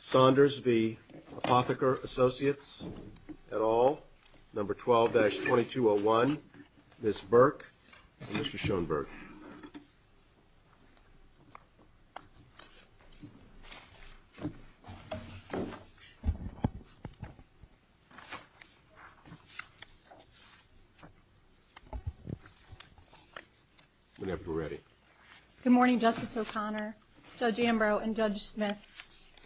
12-2201. Ms Burke, Mr. S morning. Justice O'Conno Judge Ambrose and Judge Smith.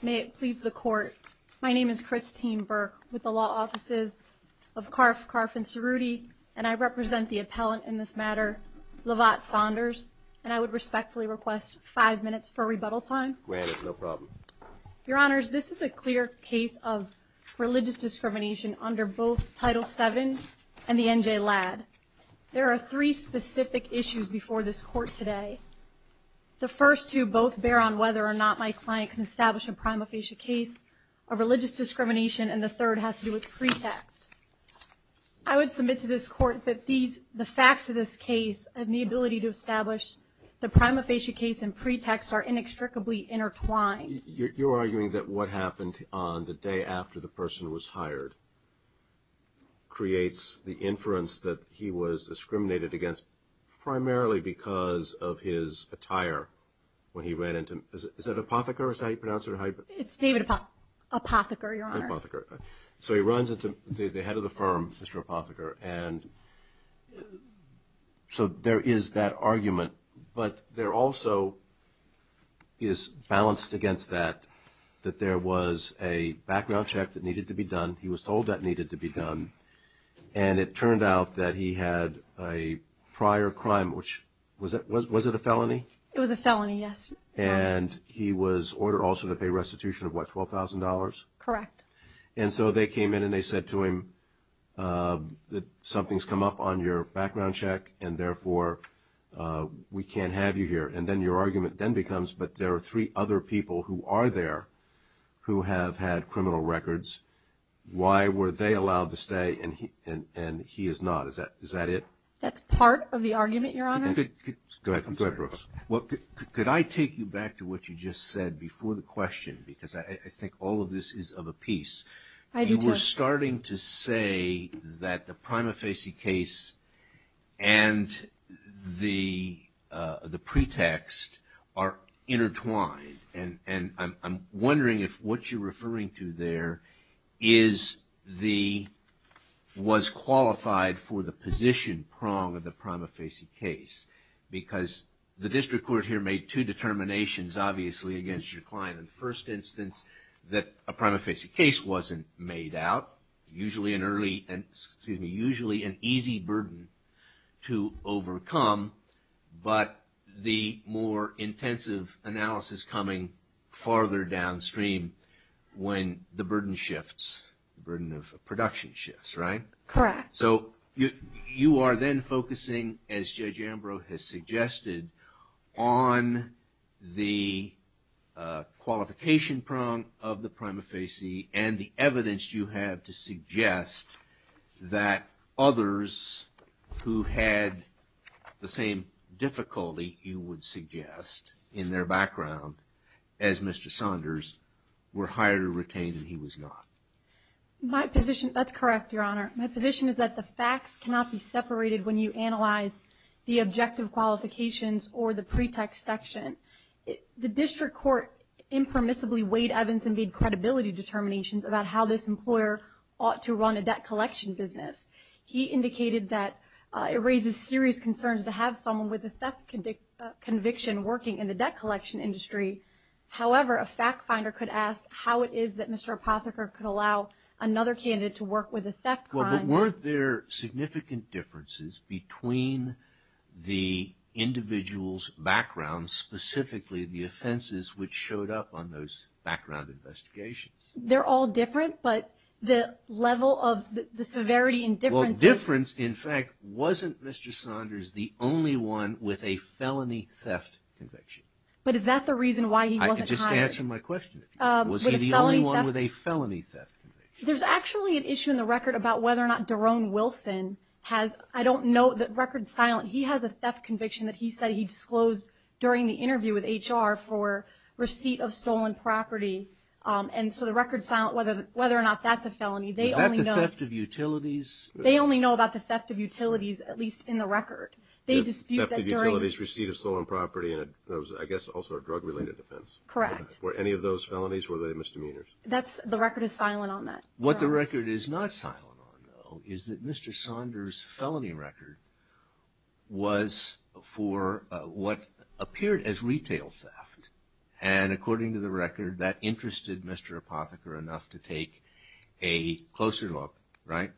May it please the court. My name is Christine Burke with the law offices of Carf, Carf and Cerruti, and I represent the appellant in this matter, Lovat Saunders, and I would respectfully request five minutes for rebuttal time. Granted. No problem, Your Honors. This is a clear case of religious discrimination under both Title seven and the N. J. Ladd. There are three specific issues before this court today. The first two both bear on whether or not my client can establish a prima facie case of religious discrimination, and the third has to do with pretext. I would submit to this court that these the facts of this case and the ability to establish the prima facie case and pretext are inextricably intertwined. You're arguing that what happened on the day after the person was hired creates the inference that he was discriminated against primarily because of his attire when he ran into. Is that apothecary site pronounced? It's David Apotheker, Your Honor. So he runs into the head of the firm, Mr Apotheker. And so there is that argument, but there also is balanced against that, that there was a background check that needed to be done. He was told that needed to be done. And it turned out that he had a prior crime, which was it a felony? It was a felony, yes. And he was ordered also to pay restitution of what, $12,000? Correct. And so they came in and they said to him that something's come up on your background check, and therefore we can't have you here. And then your argument then becomes, but there are three other people who are there who have had criminal records. Why were they allowed to stay and he is not? Is that it? That's part of the argument, Your Honor. Go ahead, Brooks. Well, could I take you back to what you just said before the question? Because I think all of this is of a piece. You were starting to say that the prima facie case and the pretext are intertwined. And I'm wondering if what you're referring to there was qualified for the position prong of the prima facie case. Because the district court here made two determinations, obviously, against your client. In the first instance, that a prima facie case wasn't made out, usually an early, and excuse me, usually an easy burden to overcome. But the more intensive analysis coming farther downstream when the burden shifts, burden of production shifts, right? Correct. So you are then focusing, as Judge Ambrose has suggested, on the qualification prong of the prima facie and the evidence you have to suggest that others who had the same difficulty you would suggest in their background as Mr. Saunders were hired to retain and he was not. My position, that's correct, Your Honor. My position is that the facts cannot be separated when you analyze the objective qualifications or the pretext section. The district court impermissibly weighed Evans and made credibility determinations about how this employer ought to run a debt collection business. He indicated that it raises serious concerns to have someone with a theft conviction working in the debt collection industry. However, a fact finder could ask how it is that Mr. Apotheker could allow another candidate to work with a theft crime. Weren't there significant differences between the individual's background, specifically the offenses which showed up on those background investigations? They're all different, but the level of the severity and difference, in fact, wasn't Mr. Saunders the only one with a felony theft conviction. But is that the reason why he wasn't hired? I can just answer my question. Was he the only one with a felony theft conviction? There's actually an issue in the record about whether or not Derone Wilson has, I don't know the record's silent, he has a theft conviction that he said he disclosed during the interview with HR for receipt of stolen property. And so the record's silent whether or not that's a felony. Is that the theft of utilities? They only know about the theft of utilities, at least in the record. They dispute that during... Theft of utilities, receipt of stolen property, and it was, I guess, also a drug related offense. Correct. Were any of those felonies, were they misdemeanors? That's, the record is silent on that. What the record is not silent on, though, is that Mr. Saunders' felony record was for what appeared as retail theft. And according to the record, that interested Mr. Apotheker enough to take a closer look, right?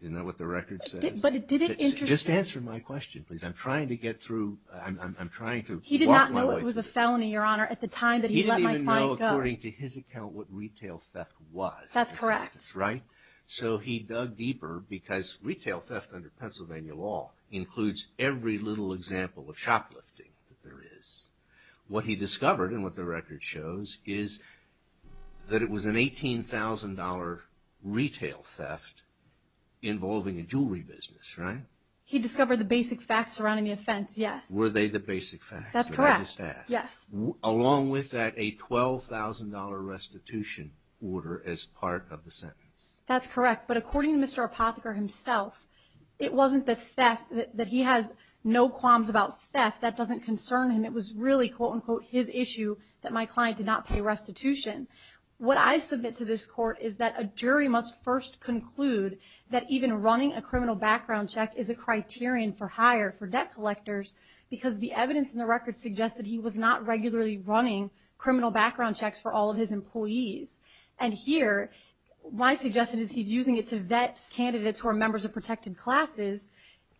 Isn't that what the record says? But did it interest him? Just answer my question, please. I'm trying to get through, I'm trying to walk my way through. He did not know it was a felony, Your Honor, at the time that he let my client go. He didn't even know, according to his account, what retail theft was. That's correct. Right? So he dug deeper because retail theft under Pennsylvania law includes every little example of shoplifting that there is. He did not know that there was a $18,000 retail theft involving a jewelry business, right? He discovered the basic facts surrounding the offense, yes. Were they the basic facts? That's correct. Yes. Along with that, a $12,000 restitution order as part of the sentence. That's correct, but according to Mr. Apotheker himself, it wasn't the theft, that he has no qualms about theft, that doesn't concern him. It was really, quote-unquote, his issue that my client did not pay for the restitution. What I submit to this court is that a jury must first conclude that even running a criminal background check is a criterion for hire for debt collectors because the evidence in the record suggests that he was not regularly running criminal background checks for all of his employees. And here, my suggestion is he's using it to vet candidates who are members of protected classes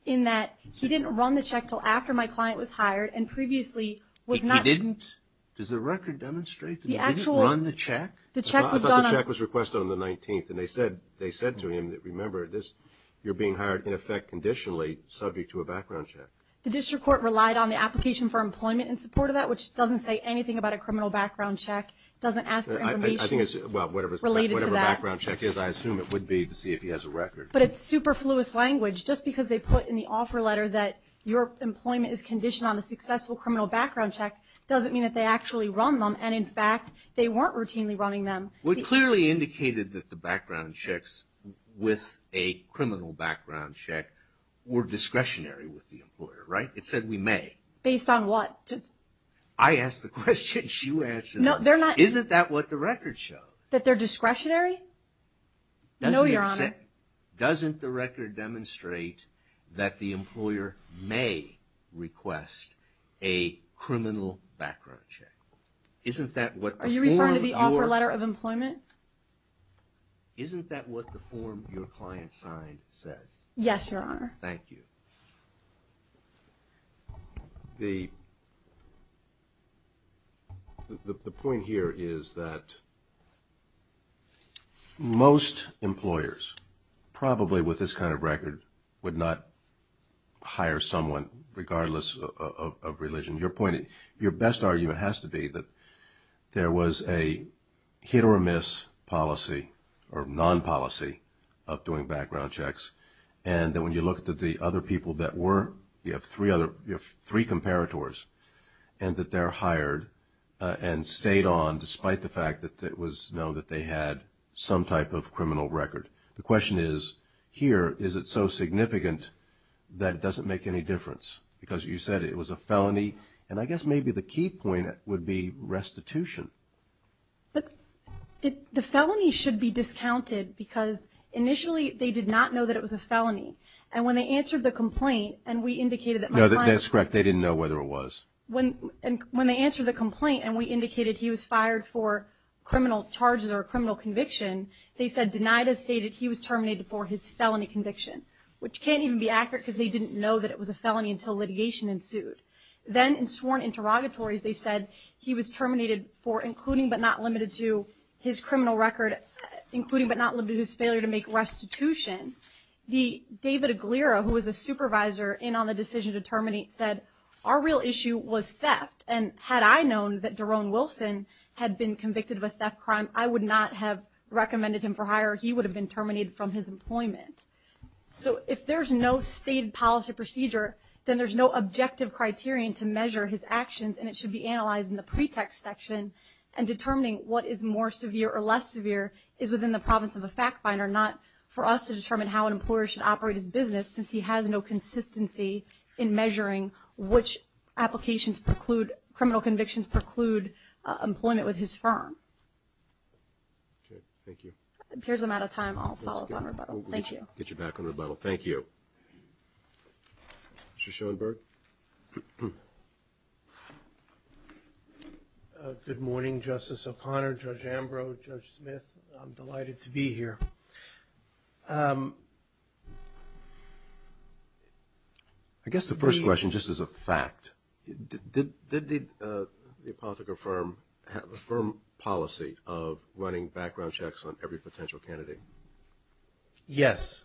in that he didn't run the check until after my client was hired. He didn't run the check? I thought the check was requested on the 19th, and they said to him, remember this, you're being hired in effect conditionally subject to a background check. The district court relied on the application for employment in support of that, which doesn't say anything about a criminal background check. It doesn't ask for information related to that. I think it's, well, whatever background check is, I assume it would be to see if he has a record. But it's superfluous language. Just because they put in the offer letter that your employment is conditioned on a successful criminal background check doesn't mean that they actually run them, and in fact, they weren't routinely running them. It clearly indicated that the background checks with a criminal background check were discretionary with the employer, right? It said we may. Based on what? I asked the question, she answered. No, they're not. Isn't that what the record showed? That they're discretionary? No, Your Honor. Doesn't the record demonstrate that the employer may request a criminal background check? Isn't that what the form of your... Are you referring to the offer letter of employment? Isn't that what the form your client signed says? Yes, Your Honor. Thank you. The point here is that most employers, probably with this kind of record, would not hire someone regardless of religion. Your point, your best argument has to be that there was a hit-or-miss policy or non-policy of doing background checks, and that when you look at the other people that were, you have three comparators, and that they're hired and stayed on despite the fact that it was known that they had some type of criminal record. The question is, here, is it so significant that it doesn't make any difference? Because you said it was a felony, and I guess maybe the key point would be restitution. The felony should be discounted because initially they did not know that it was a felony, and when they answered the complaint and we indicated that my client... No, that's correct. They didn't know whether it was. When they answered the complaint and we indicated he was fired for criminal charges or criminal conviction, they said, denied as stated, he was terminated for his felony conviction, which can't even be accurate because they didn't know that it was a felony until litigation ensued. Then in sworn interrogatories, they said he was terminated for including but not limited to his criminal record, including but not limited to his failure to make restitution. The David Aguilera, who was a supervisor in on the decision to terminate, said our real issue was theft, and had I known that Jerome Wilson had been convicted of a theft crime, I would not have recommended him for hire. He would have been employed. So if there's no state policy procedure, then there's no objective criterion to measure his actions, and it should be analyzed in the pretext section, and determining what is more severe or less severe is within the province of a fact finder, not for us to determine how an employer should operate his business since he has no consistency in measuring which applications preclude, criminal convictions preclude, employment with his firm. Okay, thank you. If appears I'm out of time, I'll follow up on rebuttal. Thank you. Get you back on rebuttal. Thank you. Mr. Schoenberg. Good morning, Justice O'Connor, Judge Ambrose, Judge Smith. I'm delighted to be here. I guess the first question, just as a fact, did the Pothica firm have a firm policy of running background checks on every potential candidate? Yes,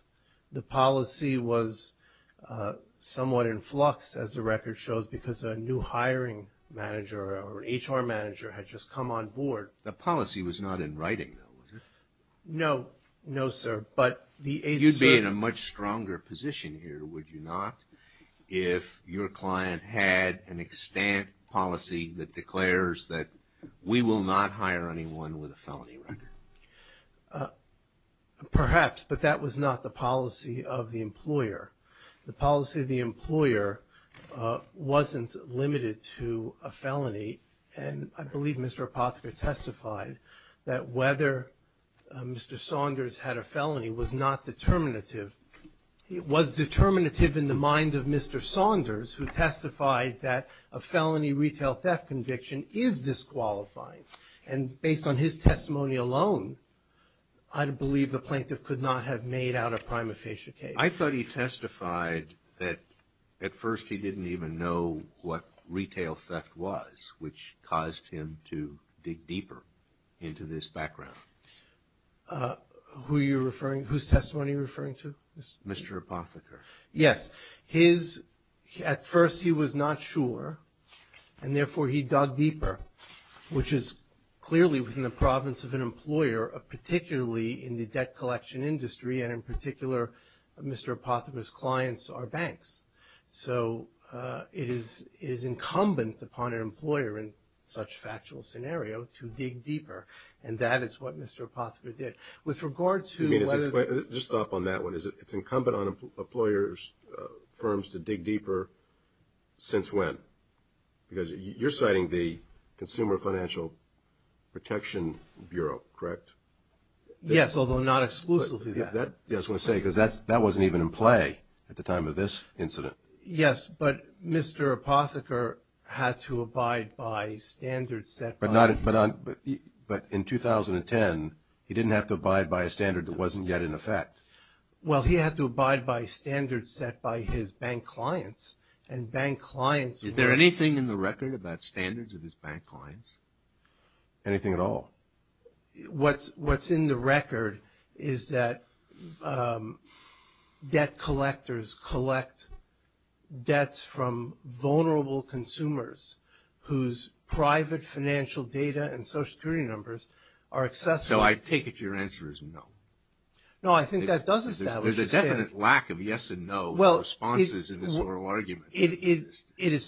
the policy was somewhat in flux, as the record shows, because a new hiring manager or HR manager had just come on board. The policy was not in writing, though, was it? No, no, sir, but the... You'd be in a much stronger position here, would you not, if your client had an extant policy that declares that we will not hire anyone with a felony record? Perhaps, but that was not the policy of the employer. The policy of the employer wasn't limited to a felony, and I believe Mr. Pothica testified that whether Mr. Saunders had a felony was not determinative. It was determinative in the mind of Mr. Saunders, who testified that a felony retail theft conviction is disqualifying, and based on his testimony alone, I believe the plaintiff could not have made out a prima facie case. I thought he testified that at first he didn't even know what retail theft was, which caused him to dig deeper into this background. Who are you At first he was not sure, and therefore he dug deeper, which is clearly within the province of an employer, particularly in the debt collection industry, and in particular Mr. Pothica's clients are banks. So it is incumbent upon an employer in such factual scenario to dig deeper, and that is what Mr. Pothica did. With regard to whether... Just stop on that one. It's incumbent on employer's firms to dig deeper. Since when? Because you're citing the Consumer Financial Protection Bureau, correct? Yes, although not exclusively that. I was going to say, because that wasn't even in play at the time of this incident. Yes, but Mr. Pothica had to abide by standards set by... But in 2010 he didn't have to abide by a standard that wasn't yet in effect. Well, he had to abide by standards set by his bank clients, and bank clients... Is there anything in the record about standards of his bank clients? Anything at all? What's in the record is that debt collectors collect debts from vulnerable consumers whose private financial data and social security numbers are accessible... So I take it your answer is no. No, I think that does establish a standard. There's a definite lack of yes and no responses in this oral argument. The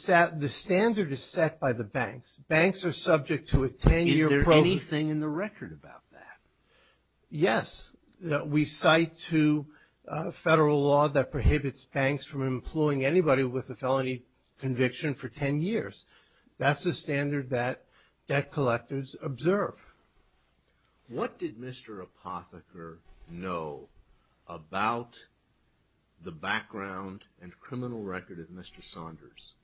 standard is set by the banks. Banks are subject to a 10-year... Is there anything in the record about that? Yes. We cite to federal law that prohibits banks from employing anybody with a felony conviction for 10 years. That's the standard that debt collectors observe. What did Mr. Pothica know about the background and criminal record of Mr. Saunders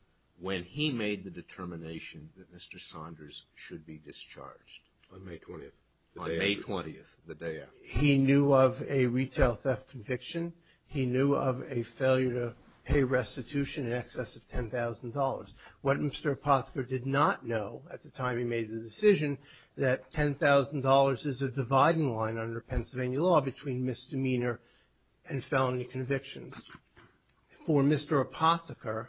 when he made the determination that Mr. Saunders should be discharged? On May 20th. On May 20th, the day after. He knew of a retail theft conviction. He knew of a failure to pay restitution in excess of $10,000. What Mr. Pothica did not know at the time he made the decision that $10,000 is a dividing line under Pennsylvania law between misdemeanor and felony convictions. For Mr. Pothica,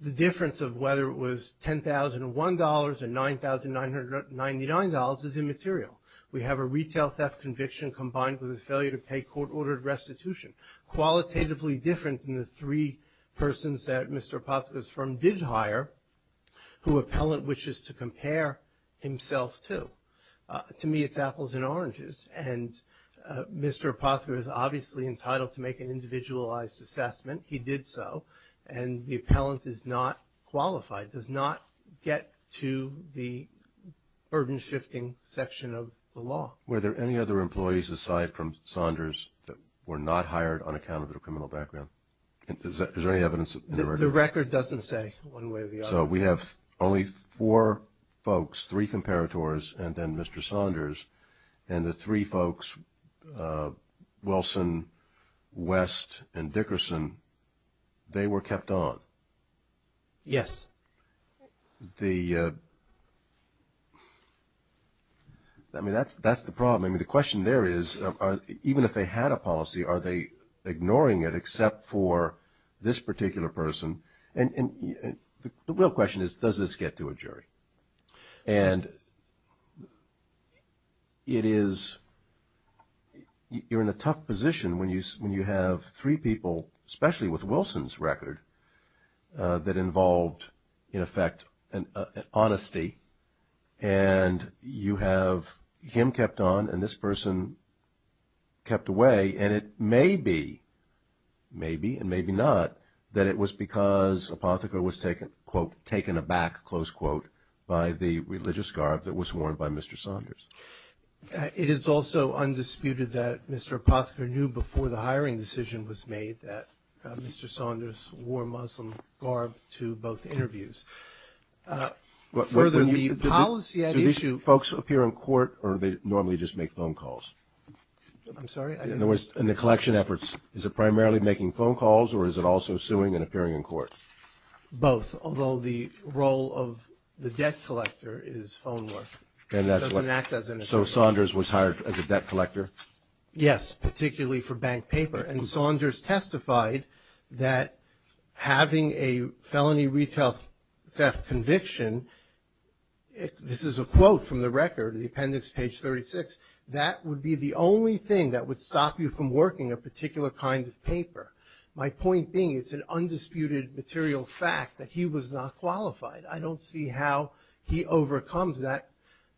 the difference of whether it was $10,001 or $9,999 is immaterial. We have a retail theft conviction combined with a failure to pay court-ordered restitution. Qualitatively different than the three persons that Mr. Pothica's firm did hire, who appellant wishes to compare himself to. To me it's apples and oranges, and Mr. Pothica is obviously entitled to make an individualized assessment. He did so, and the appellant is not qualified, does not get to the burden-shifting section of the law. Were there any other employees aside from Saunders that were not hired on account of their criminal background? Is there any evidence in the record? The record doesn't say one way or the other. So we have only four folks, three comparators, and then Mr. Saunders, and the three folks, Wilson, West, and Dickerson, they were kept on? Yes. I mean, that's the problem. I mean, the question there is, even if they had a policy, are they And the real question is, does this get to a jury? And it is, you're in a tough position when you have three people, especially with Wilson's record, that involved, in effect, an honesty, and you have him kept on, and this person kept away, and it may be, maybe and maybe not, that it was because Apotheker was taken, quote, taken aback, close quote, by the religious garb that was worn by Mr. Saunders. It is also undisputed that Mr. Apotheker knew before the hiring decision was made that Mr. Saunders wore Muslim garb to both interviews. Do these folks appear in court, or do they normally just make phone calls? I'm sorry? In other words, in the collection efforts, is it primarily making phone calls, or is it also suing and appearing in court? Both, although the role of the debt collector is phone work. So Saunders was hired as a debt collector? Yes, particularly for bank paper, and Saunders testified that having a felony retail theft conviction, this is a quote from the record, the appendix, page 36, that would be the only thing that would stop you from working a particular kind of paper. My point being, it's an undisputed material fact that he was not qualified. I don't see how he overcomes that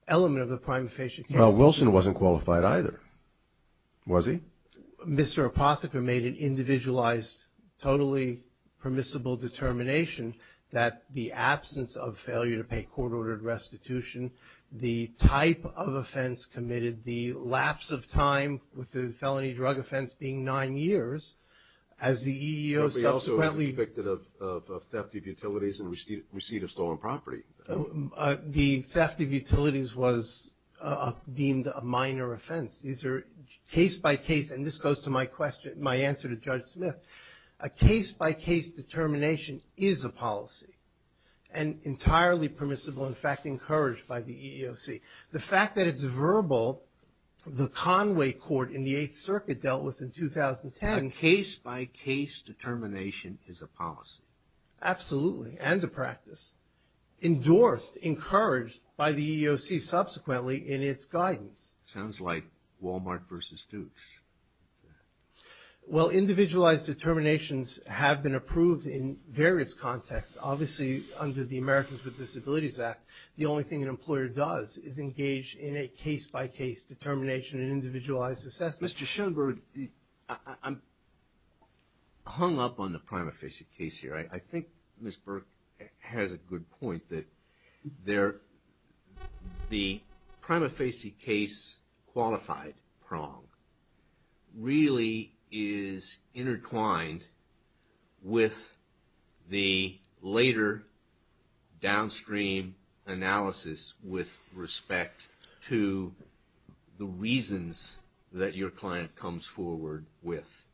element of the prime facie case. Well, Wilson wasn't qualified either, was he? Well, Mr. Apotheker made an individualized, totally permissible determination that the absence of failure to pay court-ordered restitution, the type of offense committed, the lapse of time with the felony drug offense being nine years, as the EEO subsequently... But he also was convicted of theft of utilities and receipt of stolen property. The theft of utilities was deemed a minor offense. These are case-by-case, and this goes to my question, my answer to Judge Smith. A case-by-case determination is a policy, and entirely permissible, in fact, encouraged by the EEOC. The fact that it's verbal, the Conway court in the Eighth Circuit dealt with in 2010... A case-by-case determination is a policy. Absolutely, and a practice. Endorsed, encouraged by the EEOC subsequently in its guidance. Sounds like Wal-Mart versus Dukes. Well, individualized determinations have been approved in various contexts. Obviously, under the Americans with Disabilities Act, the only thing an employer does is engage in a case-by-case determination and individualized assessment. Mr. Schoenberg, I'm hung up on the prima facie case here. I think Ms. Burke has a good point that the prima facie case qualified prong really is intertwined with the later downstream analysis with respect to the reasons that you're client comes forward with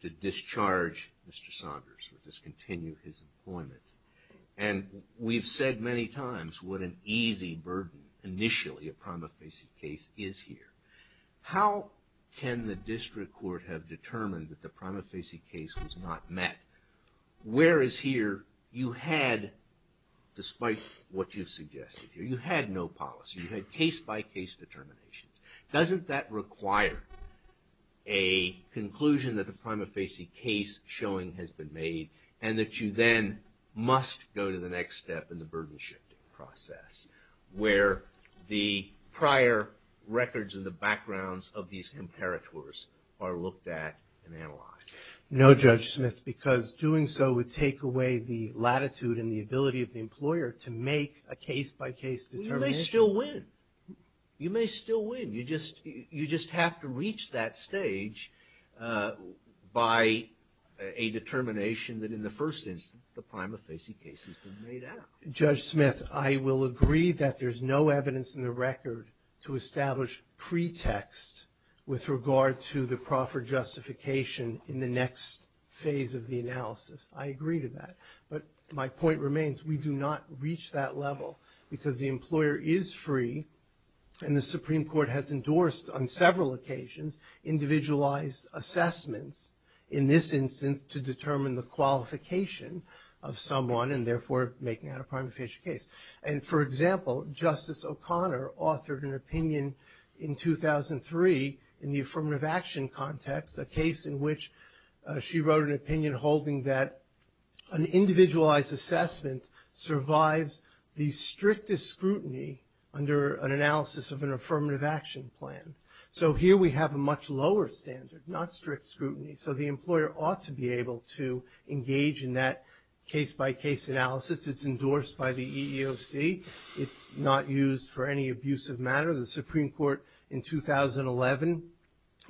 to discharge Mr. Saunders or discontinue his employment. And we've said many times what an easy burden, initially, a prima facie case is here. How can the district court have determined that the prima facie case was not met? Whereas here, you had, despite what you've suggested here, you had no policy. You had case-by-case determinations. Doesn't that require a conclusion that the prima facie case showing has been made and that you then must go to the next step in the burden shifting process where the prior records and the backgrounds of these imperators are looked at and analyzed? No, Judge Smith, because doing so would take away the latitude and the ability of the employer to make a case-by-case determination. Well, you may still win. You may still win. You just have to reach that stage by a determination that, in the first instance, the prima facie case has been made up. Judge Smith, I will agree that there's no evidence in the record to establish pretext with regard to the proffer justification in the next phase of the analysis. I agree to that. But my point remains, we do not reach that level because the employer is free and the Supreme Court has endorsed, on several occasions, individualized assessments in this instance to determine the qualification of someone and, therefore, making that a prima facie case. And, for example, Justice O'Connor authored an opinion in 2003 in the affirmative action context, a case in which she wrote an opinion holding that an individualized assessment survives the strictest scrutiny under an analysis of an affirmative action plan. So here we have a much lower standard, not strict scrutiny. So the employer ought to be able to engage in that case-by-case analysis. It's endorsed by the EEOC. It's not used for any abusive matter. The Supreme Court, in 2011,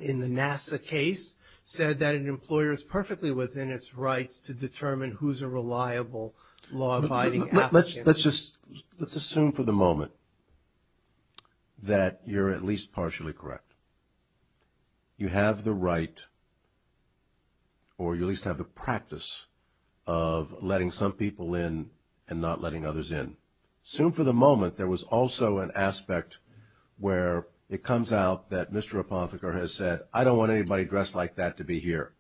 in the NASA case, said that an employer is perfectly within its rights to determine who's a reliable law-abiding applicant. Let's assume for the moment that you're at least partially correct. You have the right, or you at least have the practice, of letting some people in and not letting others in. Assume for the moment there was also an aspect where it comes out that Mr. Rapothiker has said, I don't want anybody dressed like that to be here.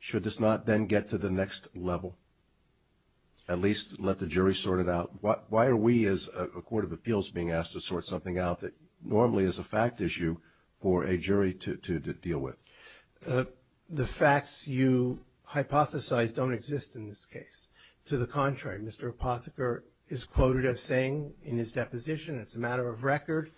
Should this not then get to the next level? At least let the jury sort it out? Why are we, as a court of appeals, being asked to sort something out that normally is a fact issue for a jury to deal with? The facts you hypothesized don't exist in this case. To the contrary, Mr. Rapothiker is quoted as saying in his deposition, it's a matter of record,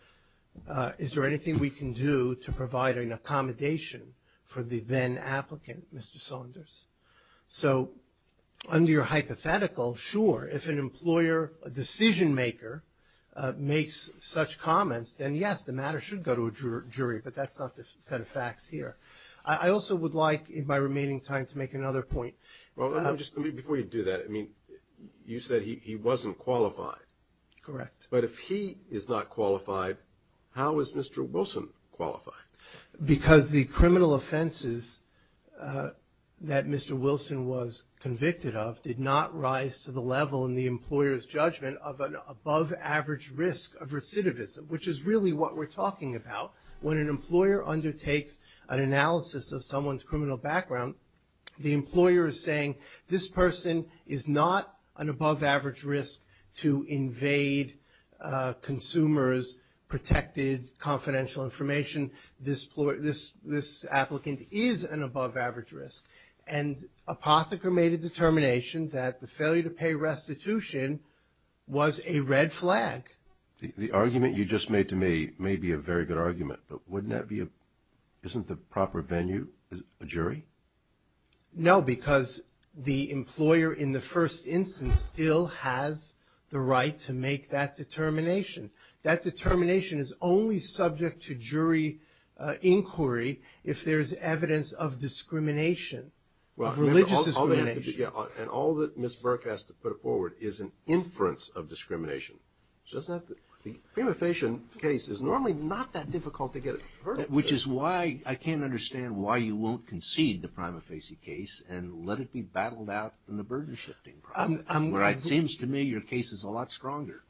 is there anything we can do to provide an accommodation for the then-applicant, Mr. Saunders? So, under your hypothetical, sure, if an employer, a decision-maker, makes such comments, then yes, the matter should go to a jury, but that's not the set of facts here. I also would like, in my remaining time, to make another point. Well, just before you do that, I mean, you said he wasn't qualified. Correct. But if he is not qualified, how is Mr. Wilson qualified? Because the criminal offenses that Mr. Wilson was convicted of did not rise to the level in the employer's judgment of an above-average risk of recidivism, which is really what we're talking about. When an employer undertakes an analysis of someone's criminal background, the employer is saying, this person is not an above-average risk to invade consumers' protected confidential information. This applicant is an above-average risk, and Rapothiker made a determination that the failure to pay restitution was a red flag. The argument you just made to me may be a very good argument, but wouldn't that be a – isn't the proper venue a jury? No, because the employer, in the first instance, still has the right to make that determination. That determination is only subject to jury inquiry if there is evidence of discrimination, of religious discrimination. And all that Ms. Burke has to put forward is an inference of discrimination. She doesn't have to – the prima facie case is normally not that difficult to get a verdict. Which is why I can't understand why you won't concede the prima facie case and let it be battled out in the burden-shifting process, where it seems to me your case is a lot stronger.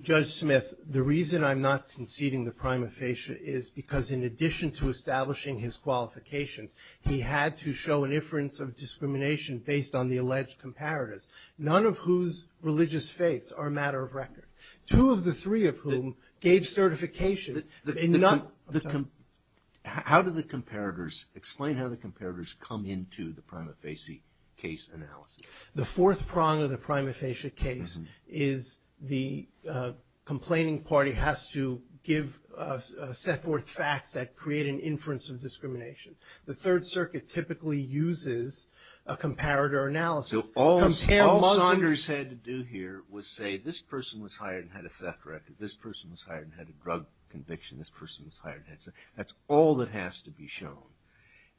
Judge Smith, the reason I'm not conceding the prima facie is because in addition to establishing his qualifications, he had to show an inference of discrimination based on the alleged comparators, none of whose religious faiths are a matter of record. Two of the three of whom gave certifications. How do the comparators – explain how the comparators come into the prima facie case analysis? The fourth prong of the prima facie case is the complaining party has to give – set forth facts that create an inference of discrimination. The Third Circuit typically uses a comparator analysis. So all Saunders had to do here was say this person was hired and had a theft record. This person was hired and had a drug conviction. This person was hired and had – that's all that has to be shown.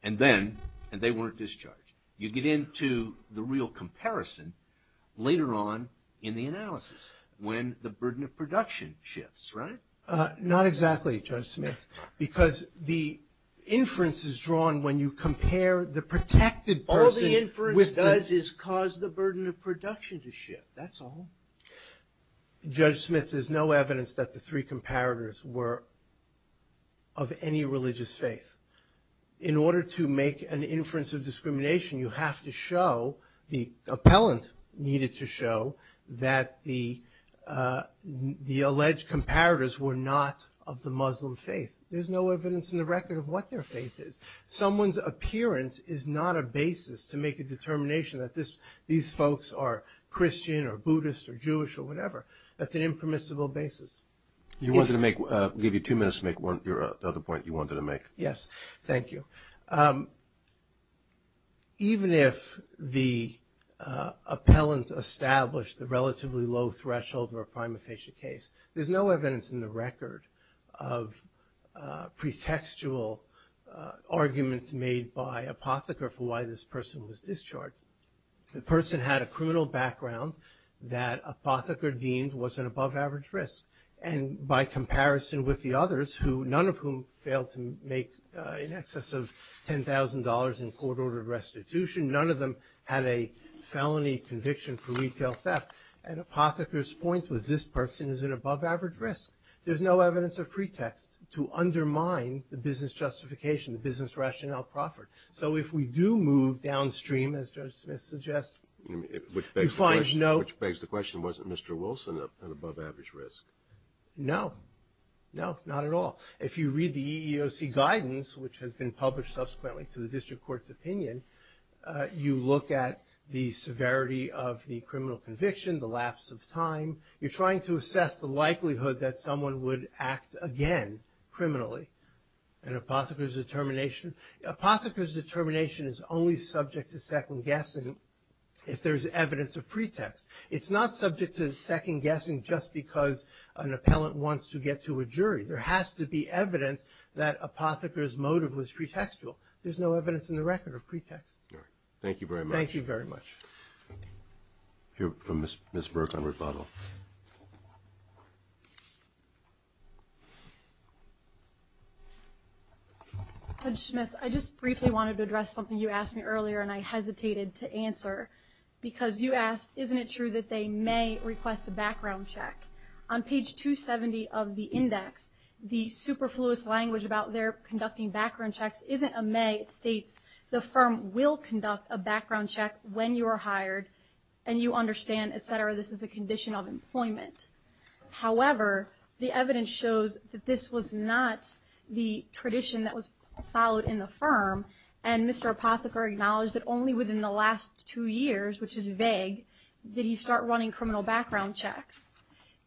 And then – and they weren't discharged. You get into the real comparison later on in the analysis when the burden of production shifts, right? Not exactly, Judge Smith, because the inference is drawn when you compare the protected person with – All the inference does is cause the burden of production to shift. That's all. Judge Smith, there's no evidence that the three comparators were of any religious faith. In order to make an inference of discrimination, you have to show – the appellant needed to show that the alleged comparators were not of the Muslim faith. There's no evidence in the record of what their faith is. Someone's appearance is not a basis to make a determination that these folks are Christian or Buddhist or Jewish or whatever. That's an impermissible basis. You wanted to make – give you two minutes to make your other point you wanted to make. Yes, thank you. Even if the appellant established the relatively low threshold for a prima facie case, there's no evidence in the record of pretextual arguments made by Apotheker for why this person was discharged. The person had a criminal background that Apotheker deemed was an above-average risk. And by comparison with the others, none of whom failed to make in excess of $10,000 in court-ordered restitution, none of them had a felony conviction for retail theft. And Apotheker's point was this person is an above-average risk. There's no evidence of pretext to undermine the business justification, the business rationale proffered. So if we do move downstream, as Judge Smith suggests, you find no – Which begs the question, wasn't Mr. Wilson an above-average risk? No, no, not at all. If you read the EEOC guidance, which has been published subsequently to the district court's opinion, you look at the severity of the criminal conviction, the lapse of time. You're trying to assess the likelihood that someone would act again criminally. And Apotheker's determination? Apotheker's determination is only subject to second-guessing if there's evidence of pretext. It's not subject to second-guessing just because an appellant wants to get to a jury. There has to be evidence that Apotheker's motive was pretextual. There's no evidence in the record of pretext. All right. Thank you very much. Thank you very much. We'll hear from Ms. Burke on rebuttal. Judge Smith, I just briefly wanted to address something you asked me earlier and I hesitated to answer. Because you asked, isn't it true that they may request a background check? On page 270 of the index, the superfluous language about their conducting background checks isn't a may. It states the firm will conduct a background check when you are hired and you understand, et cetera, this is a condition of employment. However, the evidence shows that this was not the tradition that was followed in the firm. And Mr. Apotheker acknowledged that only within the last two years, which is vague, did he start running criminal background checks.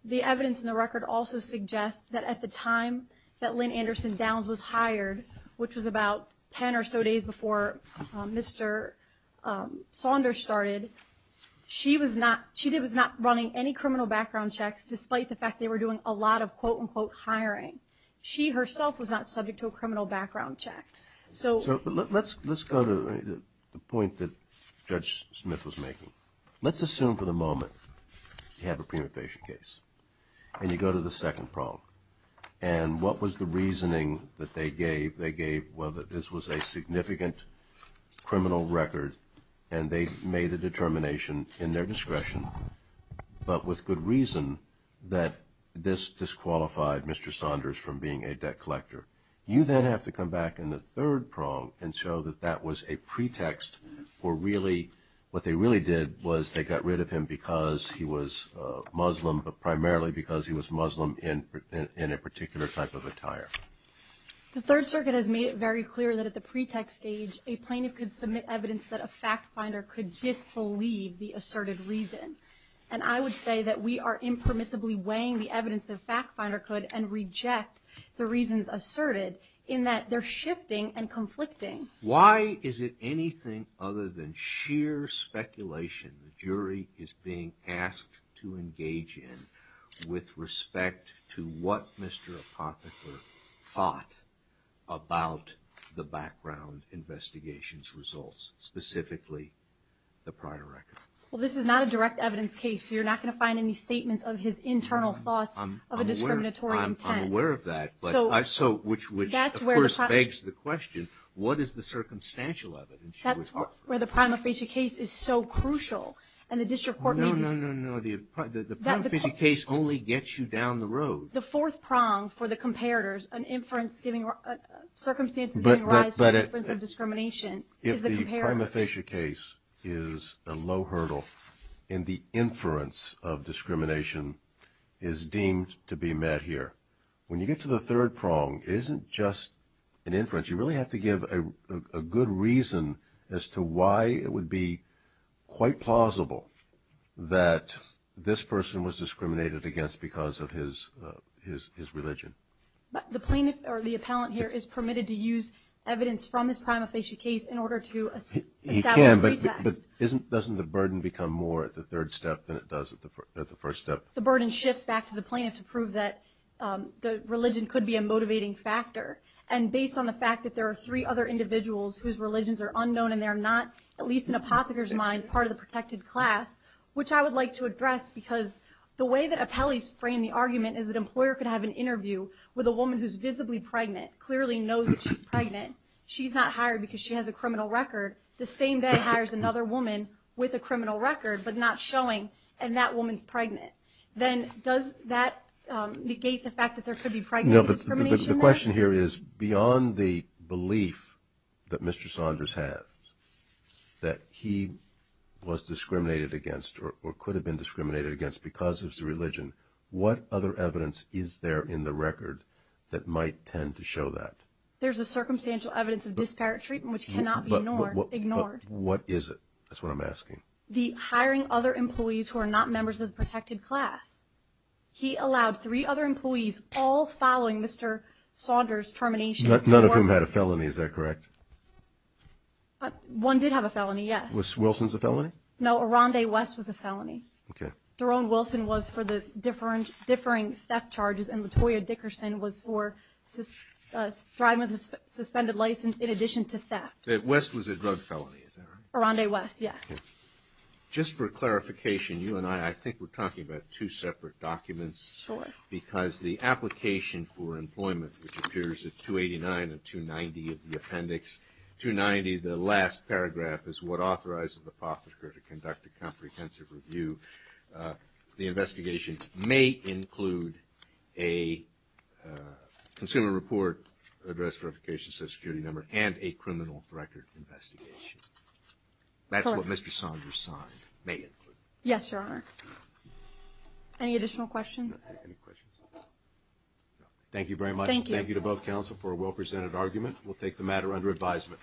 The evidence in the record also suggests that at the time that Lynn Anderson Downs was hired, which was about 10 or so days before Mr. Saunders started, she was not running any criminal background checks despite the fact they were doing a lot of, quote, unquote, hiring. She herself was not subject to a criminal background check. So let's go to the point that Judge Smith was making. Let's assume for the moment you have a prima facie case and you go to the second prong. And what was the reasoning that they gave? They gave, well, that this was a significant criminal record and they made a determination in their discretion, but with good reason that this disqualified Mr. Saunders from being a debt collector. You then have to come back in the third prong and show that that was a pretext for really, what they really did was they got rid of him because he was Muslim, but primarily because he was Muslim in a particular type of attire. The Third Circuit has made it very clear that at the pretext stage, a plaintiff could submit evidence that a fact finder could disbelieve the asserted reason. And I would say that we are impermissibly weighing the evidence that a fact finder could and reject the reasons asserted in that they're shifting and conflicting. Why is it anything other than sheer speculation the jury is being asked to engage in with respect to what Mr. Apotheker thought about the background investigation's results, specifically the prior record? Well, this is not a direct evidence case, so you're not going to find any statements of his internal thoughts of a discriminatory intent. I'm aware of that, which of course begs the question, what is the circumstantial of it? That's where the prima facie case is so crucial. No, no, no, no. The prima facie case only gets you down the road. The fourth prong for the comparators, circumstances giving rise to the inference of discrimination is the comparators. If the prima facie case is a low hurdle and the inference of discrimination is deemed to be met here, you really have to give a good reason as to why it would be quite plausible that this person was discriminated against because of his religion. The plaintiff or the appellant here is permitted to use evidence from this prima facie case in order to establish a pretext. He can, but doesn't the burden become more at the third step than it does at the first step? The burden shifts back to the plaintiff to prove that religion could be a motivating factor, and based on the fact that there are three other individuals whose religions are unknown and they're not, at least in Apotheker's mind, part of the protected class, which I would like to address because the way that appellees frame the argument is that an employer could have an interview with a woman who's visibly pregnant, clearly knows that she's pregnant. She's not hired because she has a criminal record. The same day hires another woman with a criminal record but not showing, and that woman's pregnant. Then does that negate the fact that there could be pregnancy discrimination there? The question here is beyond the belief that Mr. Saunders had that he was discriminated against or could have been discriminated against because of his religion, what other evidence is there in the record that might tend to show that? There's a circumstantial evidence of disparate treatment which cannot be ignored. What is it? That's what I'm asking. The hiring other employees who are not members of the protected class. He allowed three other employees, all following Mr. Saunders' termination. None of whom had a felony, is that correct? One did have a felony, yes. Was Wilson's a felony? No, Aranda West was a felony. Okay. Daron Wilson was for the differing theft charges, and Latoya Dickerson was for driving with a suspended license in addition to theft. West was a drug felony, is that right? Aranda West, yes. Okay. Just for clarification, you and I, I think we're talking about two separate documents. Sure. Because the application for employment, which appears at 289 and 290 of the appendix, 290, the last paragraph, is what authorizes the prosecutor to conduct a comprehensive review. The investigation may include a consumer report, address verification, social security number, and a criminal record investigation. That's what Mr. Saunders signed. May it? Yes, Your Honor. Any additional questions? Any questions? No. Thank you very much. Thank you. Thank you to both counsel for a well-presented argument. We'll take the matter under advisement.